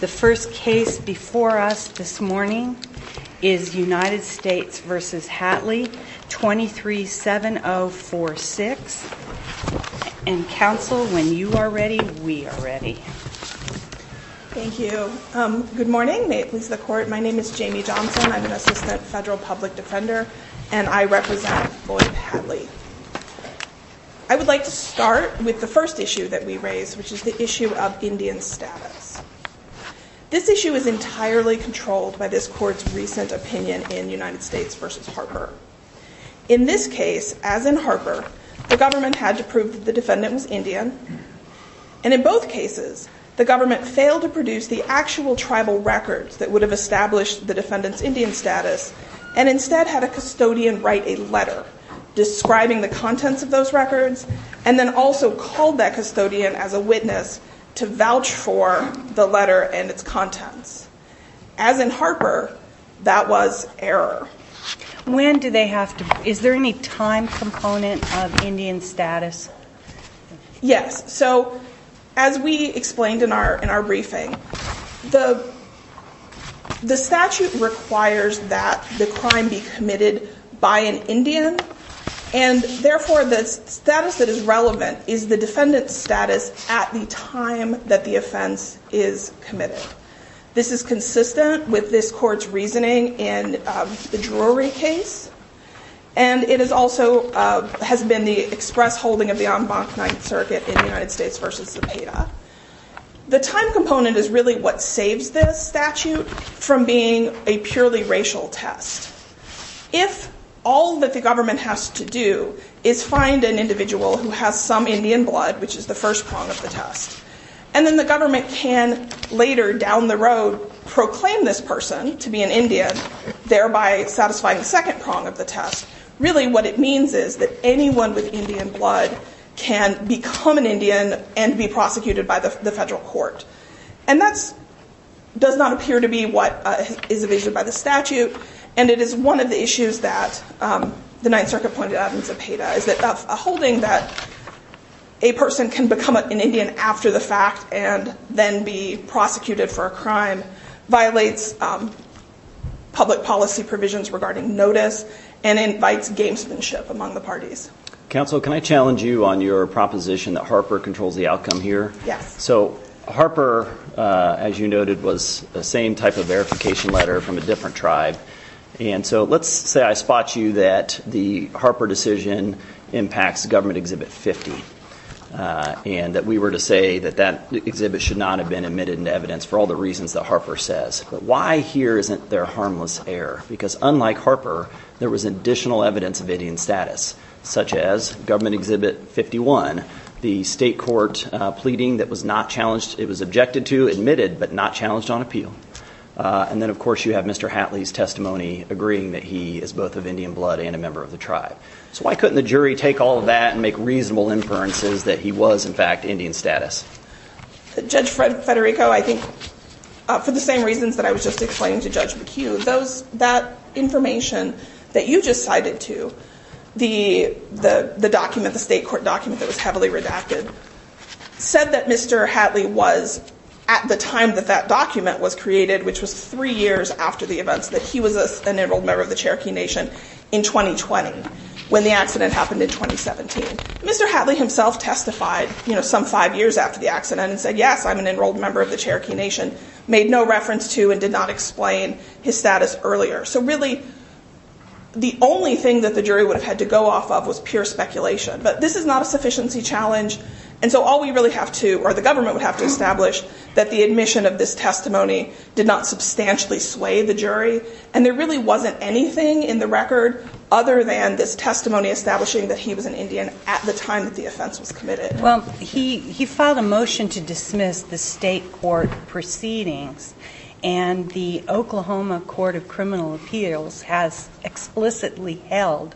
The first case before us this morning is United States v. Hatley, 237046. And counsel, when you are ready, we are ready. Thank you. Good morning. May it please the Court. My name is Jamie Johnson. I'm an assistant federal public defender, and I represent Boyd-Hatley. I would like to start with the first issue that we raised, which is the issue of Indian status. This issue is entirely controlled by this Court's recent opinion in United States v. In this case, as in Harper, the government had to prove that the defendant was Indian, and in both cases, the government failed to produce the actual tribal records that would have established the defendant's Indian status, and instead had a custodian write a letter describing the contents of those records, and then also called that custodian as a witness to vouch for the letter and its contents. As in Harper, that was error. When do they have to, is there any time component of Indian status? Yes. So as we explained in our briefing, the statute requires that the crime be committed by an Indian, and therefore the status that is relevant is the defendant's status at the time that the offense is committed. This is consistent with this Court's reasoning in the Drury case, and it is also, has been the express holding of the en banc Ninth Circuit in United States v. Zepeda. The time component is really what saves this statute from being a purely racial test. If all that the government has to do is find an individual who has some Indian blood, which is the first prong of the test, and then the government can later down the road proclaim this person to be an Indian, thereby satisfying the second prong of the test, really what it means is that anyone with Indian blood can become an Indian and be prosecuted by the federal court. And that does not appear to be what is envisioned by the statute, and it is one of the issues that the Ninth Circuit pointed out in Zepeda, is that a holding that a person can become an Indian after the fact and then be prosecuted for a crime violates public policy provisions regarding notice and invites gamesmanship among the parties. Counsel, can I challenge you on your proposition that Harper controls the outcome here? Yes. So, Harper, as you noted, was the same type of verification letter from a different tribe, and so let's say I spot you that the Harper decision impacts Government Exhibit 50, and that we were to say that that exhibit should not have been admitted into evidence for all the reasons that Harper says, but why here isn't there harmless error? Because unlike Harper, there was additional evidence of Indian status, such as Government Report pleading that was not challenged, it was objected to, admitted, but not challenged on appeal. And then, of course, you have Mr. Hatley's testimony agreeing that he is both of Indian blood and a member of the tribe. So why couldn't the jury take all of that and make reasonable inferences that he was, in fact, Indian status? Judge Federico, I think for the same reasons that I was just explaining to Judge McHugh, that information that you just cited to, the document, the state court document that was heavily redacted, said that Mr. Hatley was, at the time that that document was created, which was three years after the events, that he was an enrolled member of the Cherokee Nation in 2020, when the accident happened in 2017. Mr. Hatley himself testified some five years after the accident and said, yes, I'm an enrolled member of the Cherokee Nation, made no reference to and did not explain his status earlier. So really, the only thing that the jury would have had to go off of was pure speculation. But this is not a sufficiency challenge. And so all we really have to, or the government would have to establish, that the admission of this testimony did not substantially sway the jury. And there really wasn't anything in the record other than this testimony establishing that he was an Indian at the time that the offense was committed. Well, he filed a motion to dismiss the state court proceedings. And the Oklahoma Court of Criminal Appeals has explicitly held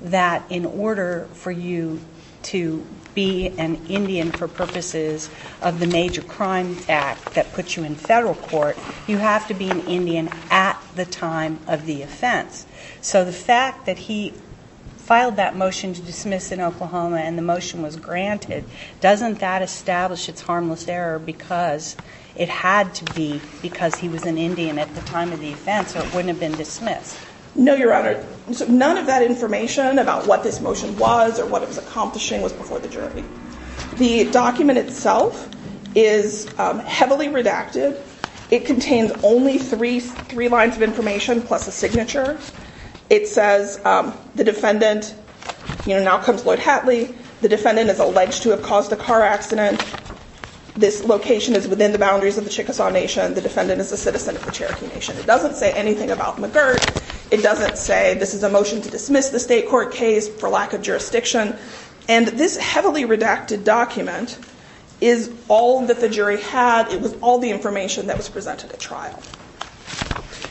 that in order for you to be an Indian for purposes of the major crime act that puts you in federal court, you have to be an Indian at the time of the offense. So the fact that he filed that motion to dismiss in Oklahoma and the motion was granted, doesn't that establish its harmless error because it had to be because he was an Indian at the time of the offense, so it wouldn't have been dismissed? No, Your Honor. So none of that information about what this motion was or what it was accomplishing was before the jury. The document itself is heavily redacted. It contains only three lines of information plus a signature. It says the defendant, now comes Lloyd Hatley, the defendant is alleged to have caused a car accident. This location is within the boundaries of the Chickasaw Nation. The defendant is a citizen of the Cherokee Nation. It doesn't say anything about McGirt. It doesn't say this is a motion to dismiss the state court case for lack of jurisdiction. And this heavily redacted document is all that the jury had. It was all the information that was presented at trial.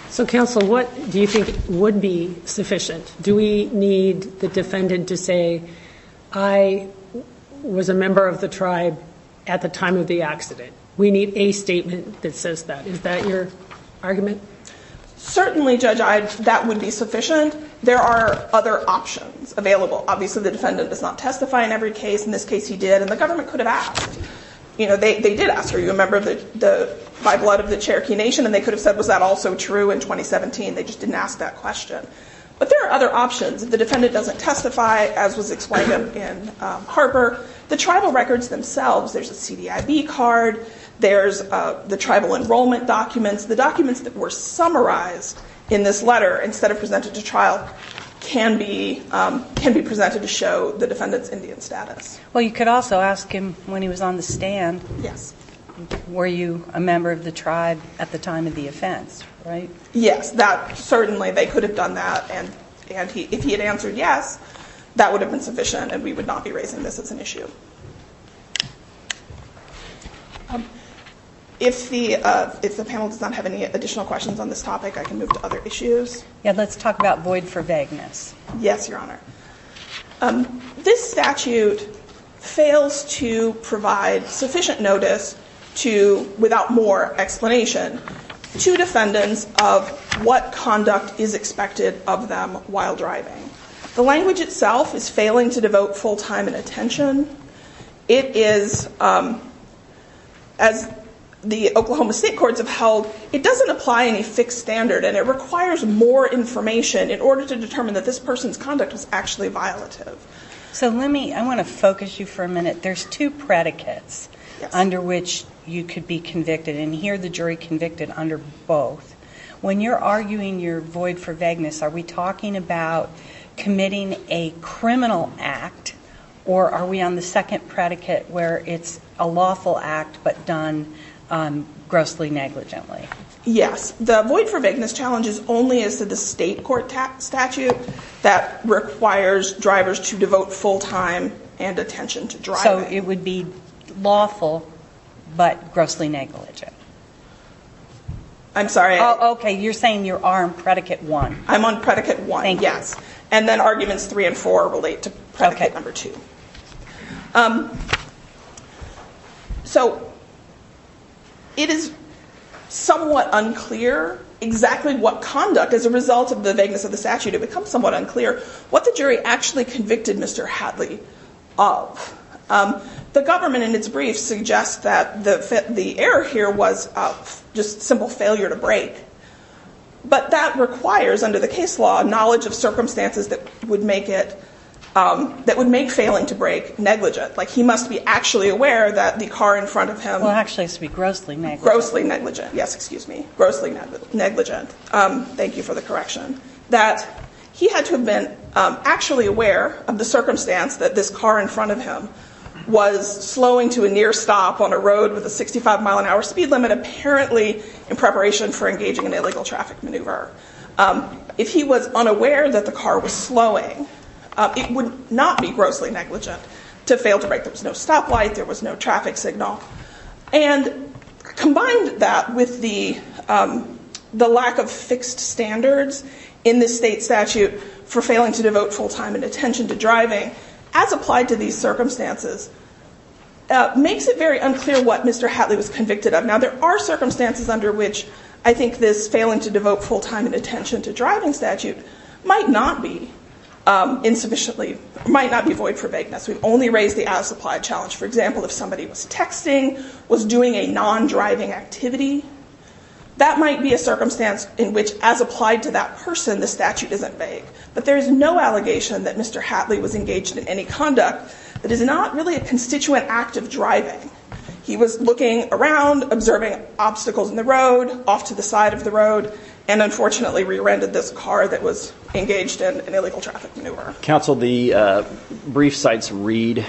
So counsel, what do you think would be sufficient? Do we need the defendant to say, I was a member of the tribe at the time of the accident? We need a statement that says that. Is that your argument? Certainly, Judge, that would be sufficient. There are other options available. Obviously, the defendant does not testify in every case. In this case, he did. And the government could have asked. You know, they did ask, are you a member by blood of the Cherokee Nation? And they could have said, was that also true in 2017? They just didn't ask that question. But there are other options. If the defendant doesn't testify, as was explained in Harper, the tribal records themselves, there's a CDIB card, there's the tribal enrollment documents. The documents that were summarized in this letter instead of presented to trial can be presented to show the defendant's Indian status. Well, you could also ask him when he was on the stand, were you a member of the tribe at the time of the offense, right? Yes. And it's that, certainly, they could have done that, and if he had answered yes, that would have been sufficient, and we would not be raising this as an issue. If the panel does not have any additional questions on this topic, I can move to other issues. Yeah, let's talk about void for vagueness. Yes, Your Honor. This statute fails to provide sufficient notice to, without more explanation, to defendants of what conduct is expected of them while driving. The language itself is failing to devote full time and attention. It is, as the Oklahoma State Courts have held, it doesn't apply any fixed standard, and it requires more information in order to determine that this person's conduct was actually violative. So let me, I want to focus you for a minute. There's two predicates under which you could be convicted, and here the jury convicted under both. When you're arguing your void for vagueness, are we talking about committing a criminal act, or are we on the second predicate where it's a lawful act but done grossly negligently? Yes. The void for vagueness challenge is only as to the state court statute that requires drivers to devote full time and attention to driving. So it would be lawful, but grossly negligent. I'm sorry. Oh, OK. You're saying you are on predicate one. I'm on predicate one, yes. And then arguments three and four relate to predicate number two. So it is somewhat unclear exactly what conduct, as a result of the vagueness of the statute, it becomes somewhat unclear what the jury actually convicted Mr. Hadley of. The government in its brief suggests that the error here was just simple failure to But that requires, under the case law, knowledge of circumstances that would make it, that would make failing to brake negligent. Like he must be actually aware that the car in front of him- Well, actually it's to be grossly negligent. Grossly negligent. Yes, excuse me. Grossly negligent. Thank you for the correction. That he had to have been actually aware of the circumstance that this car in front of him was slowing to a near stop on a road with a 65 mile an hour speed limit, apparently in preparation for engaging in illegal traffic maneuver. If he was unaware that the car was slowing, it would not be grossly negligent to fail to brake. There was no stoplight. There was no traffic signal. And combined that with the lack of fixed standards in the state statute for failing to devote full time and attention to driving, as applied to these circumstances, makes it very unclear what Mr. Hadley was convicted of. Now there are circumstances under which I think this failing to devote full time and attention to driving statute might not be insufficiently, might not be void for vagueness. We've only raised the as applied challenge. For example, if somebody was texting, was doing a non-driving activity, that might be a circumstance in which as applied to that person, the statute isn't vague. But there is no allegation that Mr. Hadley was engaged in any conduct that is not really a constituent act of driving. He was looking around, observing obstacles in the road, off to the side of the road, and unfortunately rear-ended this car that was engaged in an illegal traffic maneuver. Counsel, the brief cites Reed,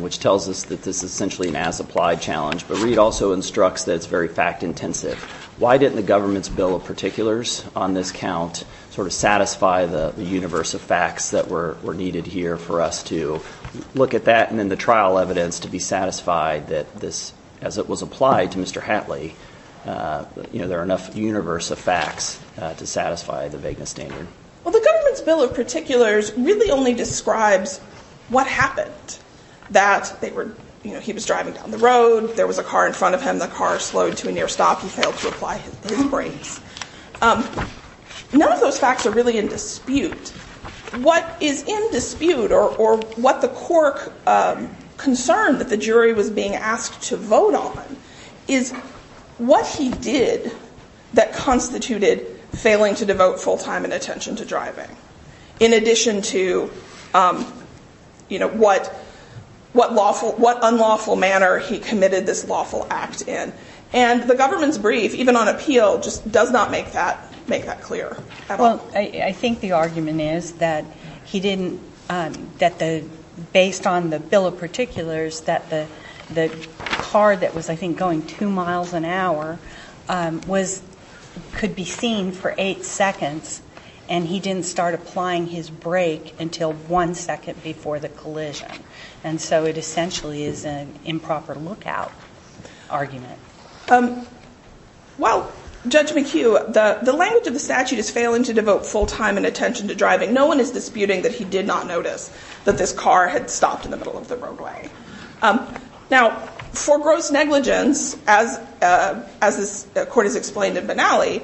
which tells us that this is essentially an as applied challenge, but Reed also instructs that it's very fact intensive. Why didn't the government's bill of particulars on this count sort of satisfy the universe of facts that were needed here for us to look at that, and then the trial evidence to be satisfied that this, as it was applied to Mr. Hadley, there are enough universe of facts to satisfy the vagueness standard? Well, the government's bill of particulars really only describes what happened. That they were, you know, he was driving down the road, there was a car in front of him, the car slowed to a near stop, he failed to apply his brakes. None of those facts are really in dispute. What is in dispute, or what the court concerned that the jury was being asked to vote on, is what he did that constituted failing to devote full time and attention to driving. In addition to, you know, what unlawful manner he committed this lawful act in. And the government's brief, even on appeal, just does not make that clear at all. I think the argument is that he didn't, that based on the bill of particulars, that the car that was, I think, going two miles an hour, was, could be seen for eight seconds, and he didn't start applying his brake until one second before the collision. And so it essentially is an improper lookout argument. Well, Judge McHugh, the language of the statute is failing to devote full time and attention to driving. No one is disputing that he did not notice that this car had stopped in the middle of the roadway. Now, for gross negligence, as this court has explained in Benally,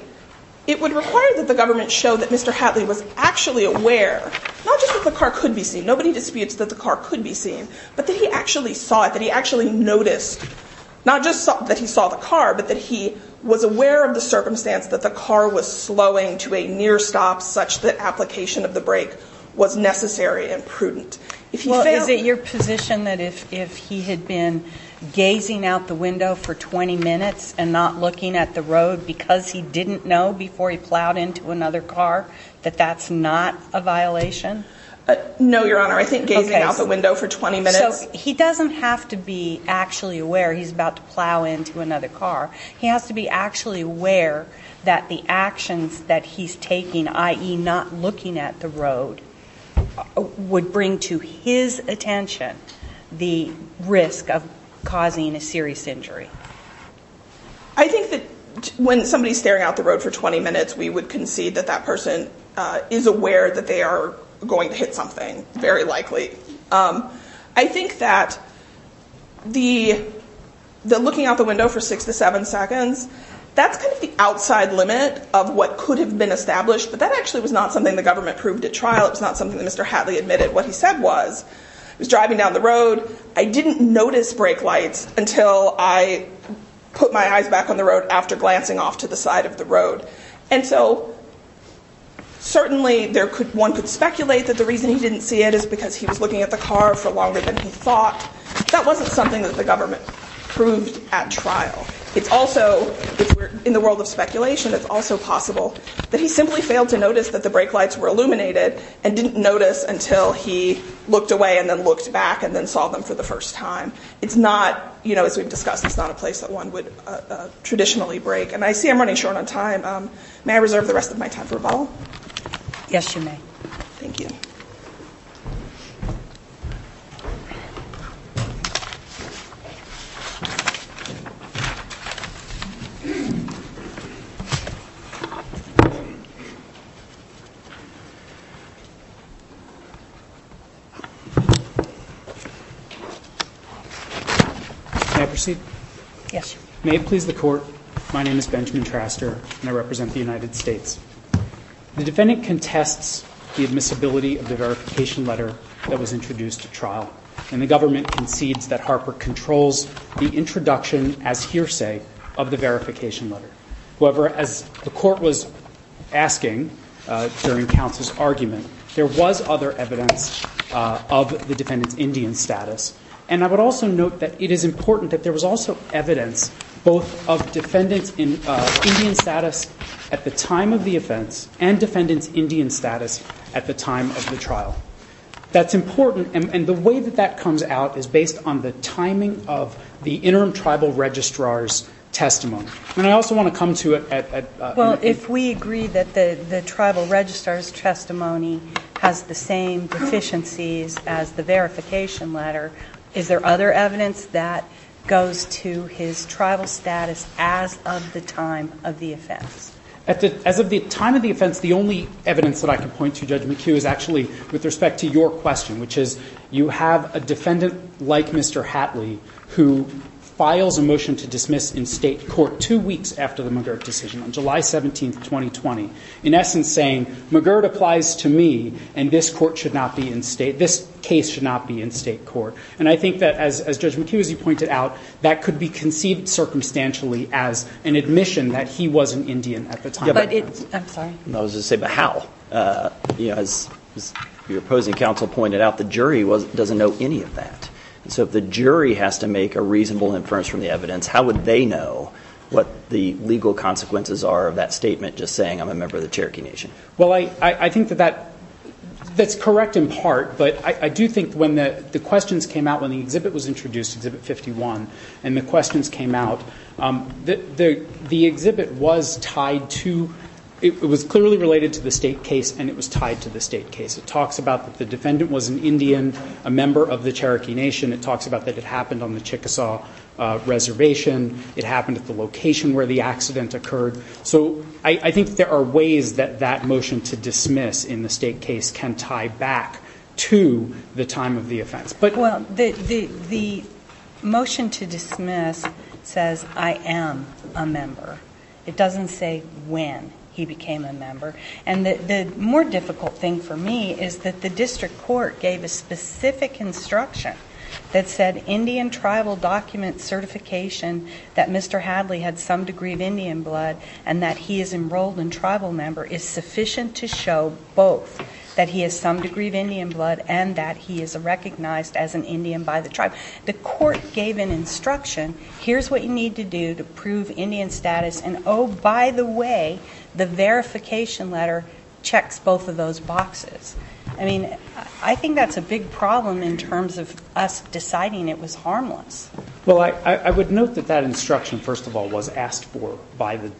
it would require that the government show that Mr. Hatley was actually aware, not just that the car could be seen, nobody disputes that the car could be seen, but that he actually saw it, that he actually noticed, not just that he saw the car, but that he was aware of the circumstance that the car was slowing to a near stop such that application of the brake was necessary and if he failed... Well, is it your position that if he had been gazing out the window for 20 minutes and not looking at the road because he didn't know before he plowed into another car, that that's not a violation? No, Your Honor. I think gazing out the window for 20 minutes... So, he doesn't have to be actually aware he's about to plow into another car. He has to be actually aware that the actions that he's taking, i.e., not looking at the road, would bring to his attention the risk of causing a serious injury. I think that when somebody's staring out the road for 20 minutes, we would concede that that person is aware that they are going to hit something, very likely. I think that looking out the window for six to seven seconds, that's kind of the outside limit of what could have been established, but that actually was not something the government proved at trial. It was not something that Mr. Hadley admitted what he said was. He was driving down the road. I didn't notice brake lights until I put my eyes back on the road after glancing off to the side of the road. And so, certainly, one could speculate that the reason he didn't see it is because he was looking at the car for longer than he thought. That wasn't something that the government proved at trial. It's also, in the world of speculation, it's also possible that he simply failed to notice that the brake lights were illuminated and didn't notice until he looked away and then looked back and then saw them for the first time. It's not, you know, as we've discussed, it's not a place that one would traditionally brake. And I see I'm running short on time. May I reserve the rest of my time for a bottle? Yes, you may. Thank you. May I proceed? Yes, sir. May it please the Court, my name is Benjamin Traster and I represent the United States. The defendant contests the admissibility of the verification letter that was introduced at trial and the government concedes that Harper controls the introduction as hearsay of the verification letter. However, as the Court was asking during counsel's argument, there was other evidence of the defendant's Indian status. And I would also note that it is important that there was also evidence both of defendant's Indian status at the time of the offense and defendant's Indian status at the time of the trial. That's important and the way that that comes out is based on the timing of the interim tribal registrar's testimony. And I also want to come to it at... Well, if we agree that the tribal registrar's testimony has the same deficiencies as the verification letter, is there other evidence that goes to his tribal status as of the time of the offense? As of the time of the offense, the only evidence that I can point to, Judge McHugh, is actually with respect to your question, which is you have a defendant like Mr. Hatley who files a motion to dismiss in state court two weeks after the McGirt decision on July 17th, 2020, in essence saying McGirt applies to me and this court should not be in state, this case should not be in state court. And I think that as Judge McHugh, as you pointed out, that could be conceived circumstantially as an admission that he was an Indian at the time of the offense. I'm sorry? I was going to say, but how? As your opposing counsel pointed out, the jury doesn't know any of that. So if the jury has to make a reasonable inference from the evidence, how would they know what the legal consequences are of that statement just saying, I'm a member of the Cherokee Nation? Well, I think that that's correct in part, but I do think when the questions came out when the exhibit was introduced, Exhibit 51, and the questions came out, the exhibit was tied to, it was clearly related to the state case and it was tied to the state case. It talks about that the defendant was an Indian, a member of the Cherokee Nation. It talks about that it happened on the Chickasaw Reservation. It happened at the location where the accident occurred. So I think there are ways that that motion to dismiss in the state case can tie back to the time of the offense. Well, the motion to dismiss says, I am a member. It doesn't say when he became a member. And the more difficult thing for me is that the district court gave a specific instruction that said, Indian tribal document certification that Mr. Hadley had some degree of Indian blood and that he is enrolled in tribal member is sufficient to show both that he has some degree of Indian blood and that he is recognized as an Indian by the tribe. The court gave an instruction, here's what you need to do to prove Indian status and oh, by the way, the verification letter checks both of those boxes. I mean, I think that's a big problem in terms of us deciding it was harmless. Well, I would note that that instruction, first of all, was asked for by the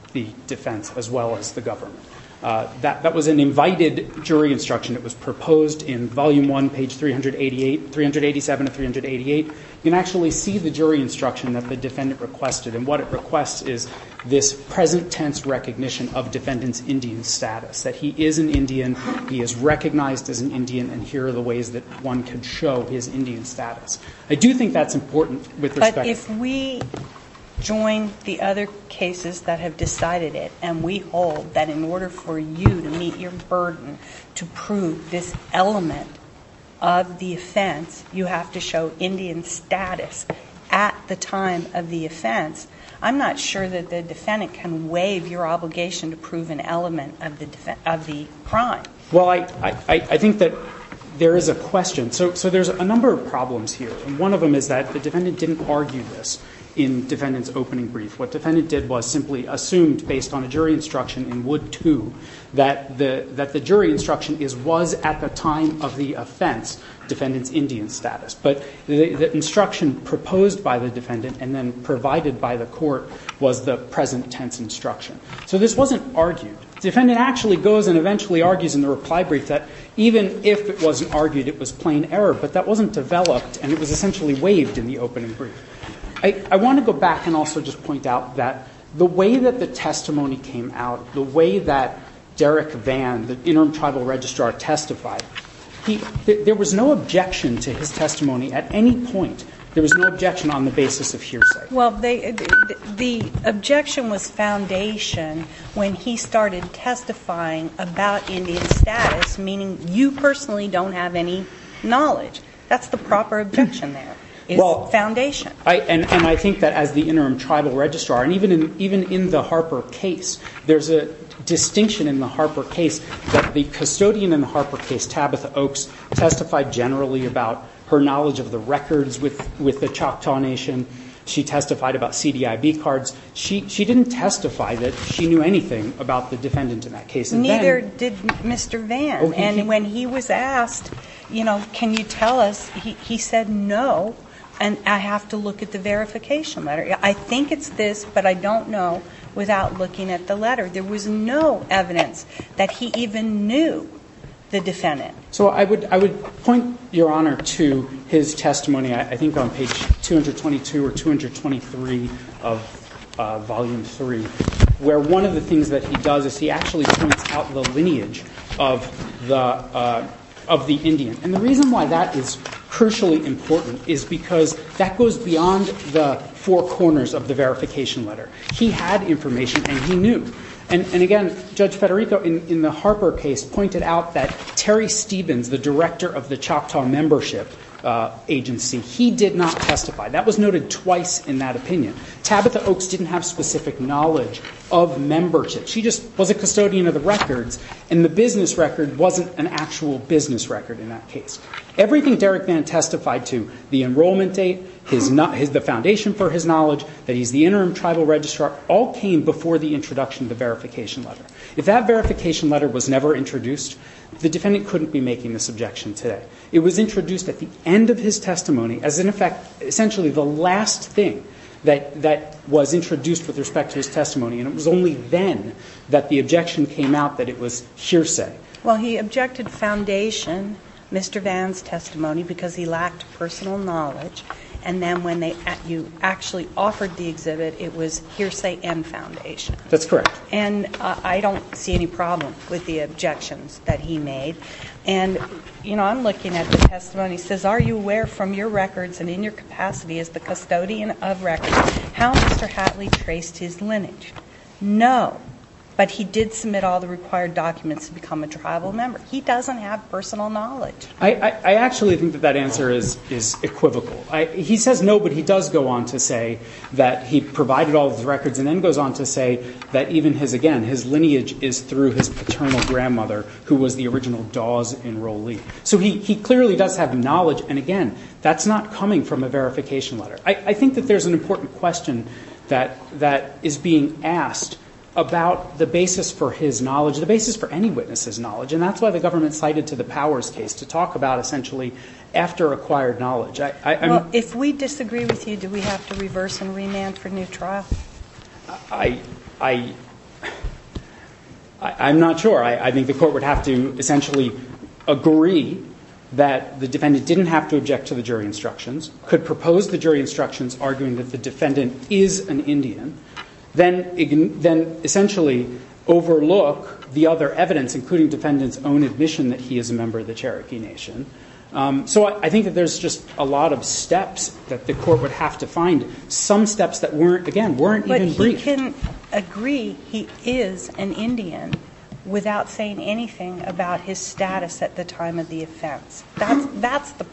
defense as well as the government. That was an invited jury instruction. It was proposed in volume one, page 388, 387 of 388. You can actually see the jury instruction that the defendant requested. And what it requests is this present tense recognition of defendant's Indian status, that he is an Indian, he is recognized as an Indian, and here are the ways that one can show his Indian status. I do think that's important with respect to We join the other cases that have decided it and we hold that in order for you to meet your burden to prove this element of the offense, you have to show Indian status at the time of the offense. I'm not sure that the defendant can waive your obligation to prove an element of the crime. Well, I think that there is a question. So there's a number of problems here and one of them is that the defendant didn't argue this in defendant's opening brief. What defendant did was simply assumed based on a jury instruction in Wood 2 that the jury instruction was at the time of the offense defendant's Indian status. But the instruction proposed by the defendant and then provided by the court was the present tense instruction. So this wasn't argued. Defendant actually goes and eventually argues in the reply brief that even if it wasn't argued, it was plain error. But that wasn't developed and it was essentially waived in the opening brief. I want to go back and also just point out that the way that the testimony came out, the way that Derek Vann, the Interim Tribal Registrar, testified, there was no objection to his testimony at any point. There was no objection on the basis of hearsay. Well, the objection was foundation when he started testifying about Indian status, meaning you personally don't have any knowledge. That's the proper objection there, is foundation. And I think that as the Interim Tribal Registrar, and even in the Harper case, there's a distinction in the Harper case that the custodian in the Harper case, Tabitha Oaks, testified generally about her knowledge of the records with the Choctaw Nation. She testified about CDIB cards. She didn't testify that she knew anything about the defendant in that case. Neither did Mr. Vann. And when he was asked, you know, can you tell us, he said no, and I have to look at the verification letter. I think it's this, but I don't know without looking at the letter. There was no evidence that he even knew the defendant. So I would point, Your Honor, to his testimony, I think on page 222 or 223 of Volume 3, where one of the things that he does is he actually points out the lineage of the Indian. And the reason why that is crucially important is because that goes beyond the four corners of the verification letter. He had information and he knew. And again, Judge Federico in the Harper case pointed out that Terry Stevens, the director of the Choctaw membership agency, he did not testify. That was noted twice in that opinion. Tabitha Oaks didn't have specific knowledge of membership. She just was a custodian of the records, and the business record wasn't an actual business record in that case. Everything Derek Vann testified to, the enrollment date, the foundation for his knowledge, that he's the interim tribal registrar, all came before the introduction of the verification letter. If that verification letter was never introduced, the defendant couldn't be making this objection today. It was introduced at the end of his testimony as, in effect, essentially the last thing that was introduced with respect to his testimony. And it was only then that the objection came out that it was hearsay. Well, he objected foundation, Mr. Vann's testimony, because he lacked personal knowledge. And then when you actually offered the exhibit, it was hearsay and foundation. That's correct. And I don't see any problem with the objections that he made. And, you know, I'm looking at the testimony. It says, are you aware from your records and in your capacity as the custodian of records, how Mr. Hatley traced his lineage? No. But he did submit all the required documents to become a tribal member. He doesn't have personal knowledge. I actually think that that answer is equivocal. He says no, but he does go on to say that he provided all the records, and then goes on to say that even his, again, his lineage is through his paternal grandmother, who was the original Dawes enrollee. So he clearly does have knowledge. And, again, that's not coming from a verification letter. I think that there's an important question that is being asked about the basis for his knowledge, the basis for any witness's knowledge. And that's why the government cited to the Powers case to talk about, essentially, after acquired knowledge. Well, if we disagree with you, do we have to reverse and remand for new trial? I'm not sure. I think the court would have to essentially agree that the defendant didn't have to object to the jury instructions, could propose the jury instructions arguing that the defendant is an Indian, then essentially overlook the other evidence, including defendant's own admission that he is a member of the Cherokee Nation. So I think that there's just a lot of steps that the court would have to find, some steps that weren't, again, weren't even briefed. But he can agree he is an Indian without saying anything about his status at the time of the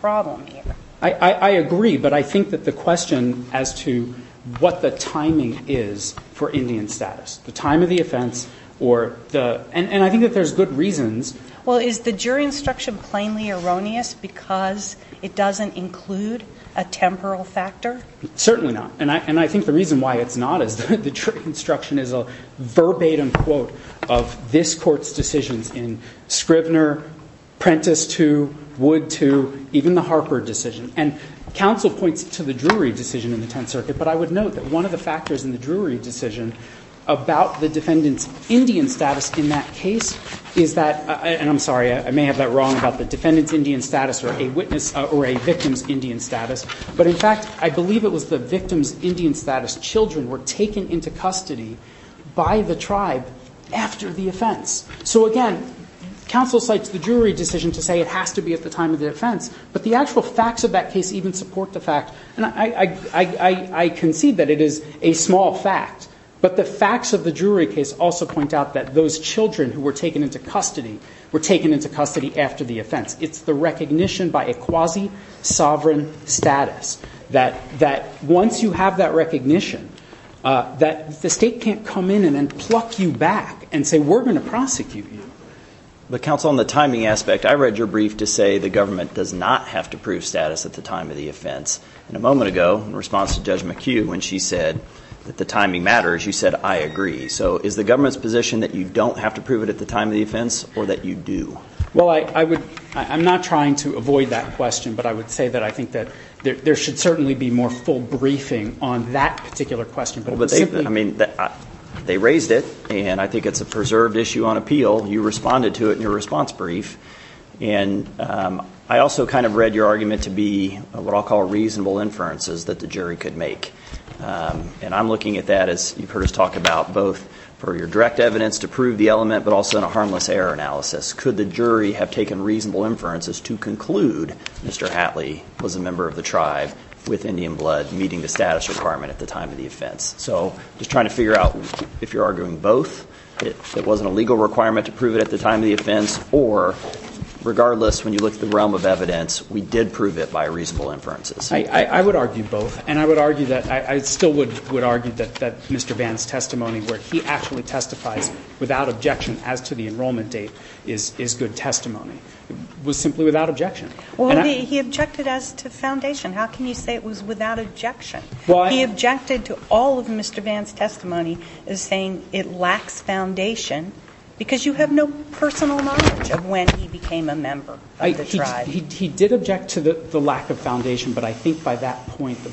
problem here. I agree. But I think that the question as to what the timing is for Indian status, the time of the offense, or the – and I think that there's good reasons. Well, is the jury instruction plainly erroneous because it doesn't include a temporal factor? Certainly not. And I think the reason why it's not is the jury instruction is a verbatim quote of this Court's decisions in Scrivner, Prentiss 2, Wood 2, even the Harper decision. And counsel points to the Drury decision in the Tenth Circuit, but I would note that one of the factors in the Drury decision about the defendant's Indian status in that case is that – and I'm sorry, I may have that wrong about the defendant's Indian status or a witness – or a victim's Indian status. But in fact, I believe it was the victim's Indian status children were taken into custody by the tribe after the offense. So again, counsel cites the Drury decision to say it has to be at the time of the offense, but the actual facts of that case even support the fact – and I concede that it is a small fact, but the facts of the Drury case also point out that those children who were taken into custody were taken into custody after the offense. It's the recognition by a quasi-sovereign status that once you have that recognition, that the state can't come in and then pluck you back and say, we're going to prosecute you. But counsel, on the timing aspect, I read your brief to say the government does not have to prove status at the time of the offense. And a moment ago, in response to Judge McHugh when she said that the timing matters, you said, I agree. So is the government's position that you don't have to prove it at the time of the offense or that you do? Well, I would – I'm not trying to avoid that question, but I would say that I think that there should certainly be more full briefing on that particular question. Well, but they – I mean, they raised it, and I think it's a preserved issue on appeal. You responded to it in your response brief. And I also kind of read your argument to be what I'll call reasonable inferences that the jury could make. And I'm looking at that as you've heard us talk about both for your direct evidence to prove the element but also in a harmless error analysis. Could the jury have taken reasonable inferences to conclude Mr. Hatley was a member of the tribe with Indian blood meeting the status requirement at the time of the offense? So I'm just trying to figure out if you're arguing both, it wasn't a legal requirement to prove it at the time of the offense, or regardless, when you look at the realm of evidence, we did prove it by reasonable inferences. I would argue both. And I would argue that – I still would argue that Mr. Vann's testimony where he actually testifies without objection as to the enrollment date is good testimony. It was simply without objection. Well, he objected as to foundation. How can you say it was without objection? Well, I – He objected to all of Mr. Vann's testimony as saying it lacks foundation because you have no personal knowledge of when he became a member of the tribe. He did object to the lack of foundation, but I think by that point –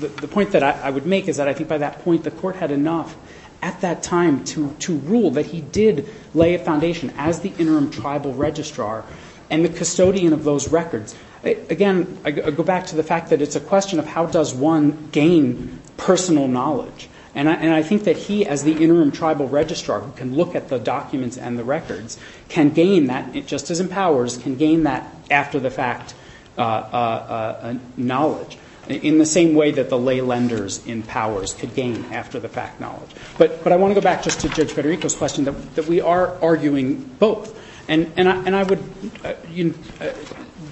the point that I would make is that I think by that point the Court had enough at that time to rule that he did lay a foundation as the interim tribal registrar and the custodian of those records. Again, I go back to the fact that it's a question of how does one gain personal knowledge. And I think that he, as the interim tribal registrar, who can look at the documents and the records, can gain that, just as empowers, can gain that after-the-fact knowledge in the same way that the lay lenders in powers could gain after-the-fact knowledge. But I want to go back just to Judge Federico's question, that we are arguing both. And I would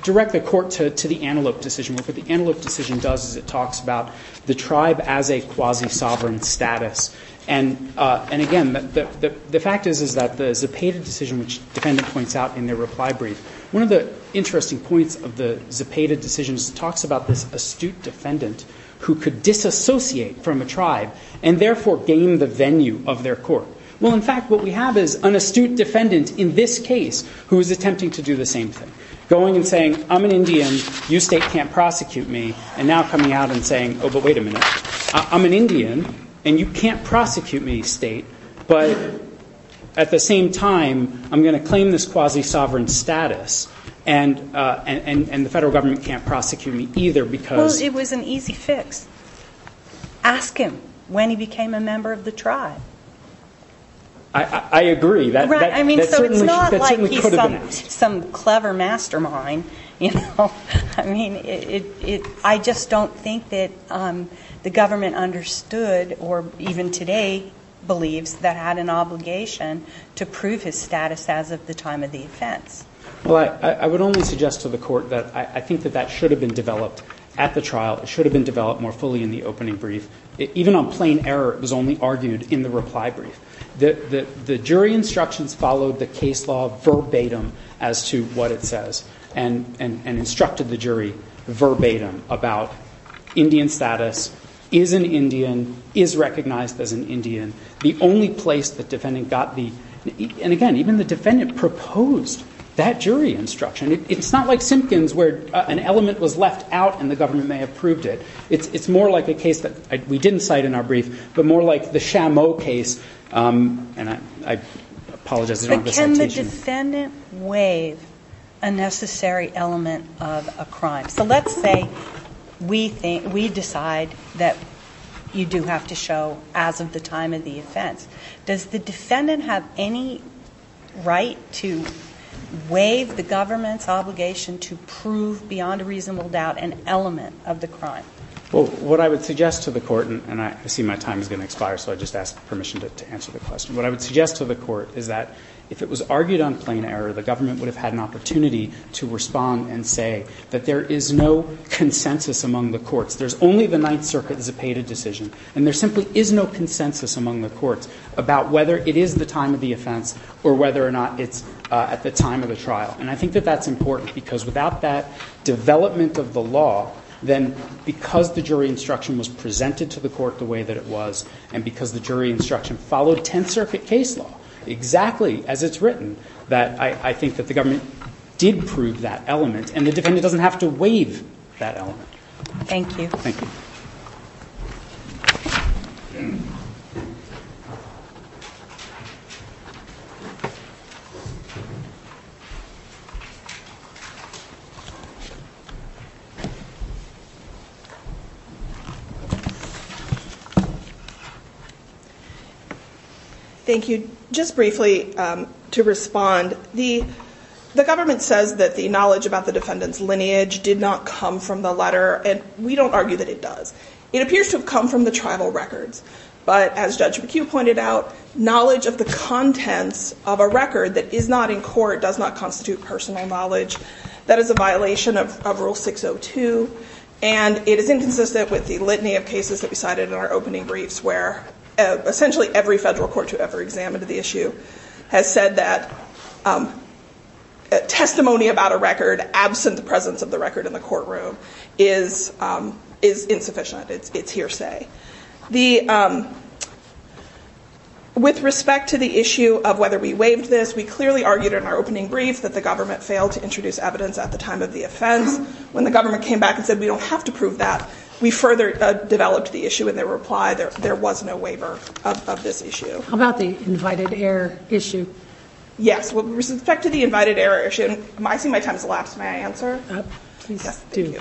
direct the Court to the Antelope decision, what the Antelope decision does is it talks about the tribe as a quasi-sovereign status. And again, the fact is that the Zepeda decision, which the defendant points out in their reply brief, one of the interesting points of the Zepeda decision is it talks about this astute from a tribe and therefore gain the venue of their court. Well, in fact, what we have is an astute defendant in this case who is attempting to do the same thing, going and saying, I'm an Indian, you state can't prosecute me, and now coming out and saying, oh, but wait a minute, I'm an Indian, and you can't prosecute me, state, but at the same time, I'm going to claim this quasi-sovereign status, and the federal government can't prosecute me either, because- Ask him when he became a member of the tribe. I agree. Right, I mean, so it's not like he's some clever mastermind, you know. I just don't think that the government understood or even today believes that had an obligation to prove his status as of the time of the offense. Well, I would only suggest to the Court that I think that that should have been developed at the trial. It should have been developed more fully in the opening brief. Even on plain error, it was only argued in the reply brief. The jury instructions followed the case law verbatim as to what it says, and instructed the jury verbatim about Indian status, is an Indian, is recognized as an Indian. The only place the defendant got the- and again, even the defendant proposed that jury instruction. It's not like Simpkins, where an element was left out and the government may have proved it. It's more like a case that we didn't cite in our brief, but more like the Shamo case, and I apologize, I don't have a citation. But can the defendant waive a necessary element of a crime? So let's say we decide that you do have to show as of the time of the offense. Does the defendant have any right to waive the government's obligation to prove beyond a reasonable doubt an element of the crime? Well, what I would suggest to the Court, and I see my time is going to expire, so I just ask permission to answer the question. What I would suggest to the Court is that if it was argued on plain error, the government would have had an opportunity to respond and say that there is no consensus among the courts. There's only the Ninth Circuit that's paid a decision, and there simply is no consensus among the courts about whether it is the time of the offense or whether or not it's at the time of the trial. And I think that that's important, because without that development of the law, then because the jury instruction was presented to the court the way that it was, and because the jury instruction followed Tenth Circuit case law exactly as it's written, that I think that the government did prove that element, and the defendant doesn't have to waive that element. Thank you. Thank you. Thank you. Just briefly, to respond, the government says that the knowledge about the defendant's lineage did not come from the letter, and we don't argue that it does. It appears to have come from the tribal records, but as Judge McHugh pointed out, knowledge of the contents of a record that is not in court does not constitute personal knowledge. That is a violation of Rule 602, and it is inconsistent with the litany of cases that we cited in our opening briefs, where essentially every federal court to ever examine the issue has said that testimony about a record, absent the presence of the record in the courtroom, is insufficient. It's hearsay. With respect to the issue of whether we waived this, we clearly argued in our opening brief that the government failed to introduce evidence at the time of the offense. When the government came back and said, we don't have to prove that, we further developed the issue in their reply. There was no waiver of this issue. How about the invited heir issue? Yes. With respect to the invited heir issue, I see my time has elapsed. May I answer? Please do.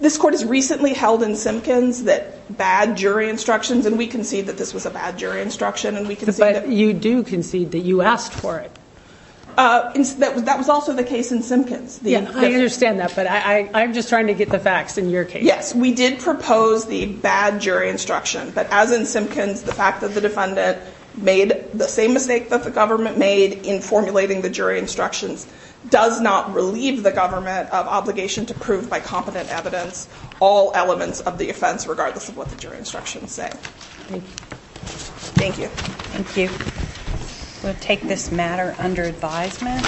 This court has recently held in Simpkins that bad jury instructions, and we concede that this was a bad jury instruction, and we concede that... But you do concede that you asked for it. That was also the case in Simpkins. Yeah, I understand that, but I'm just trying to get the facts in your case. Yes, we did propose the bad jury instruction, but as in Simpkins, the fact that the defendant made the same mistake that the government made in formulating the jury instructions does not relieve the government of obligation to prove by competent evidence all elements of the offense, regardless of what the jury instructions say. Thank you. Thank you. We'll take this matter under advisement.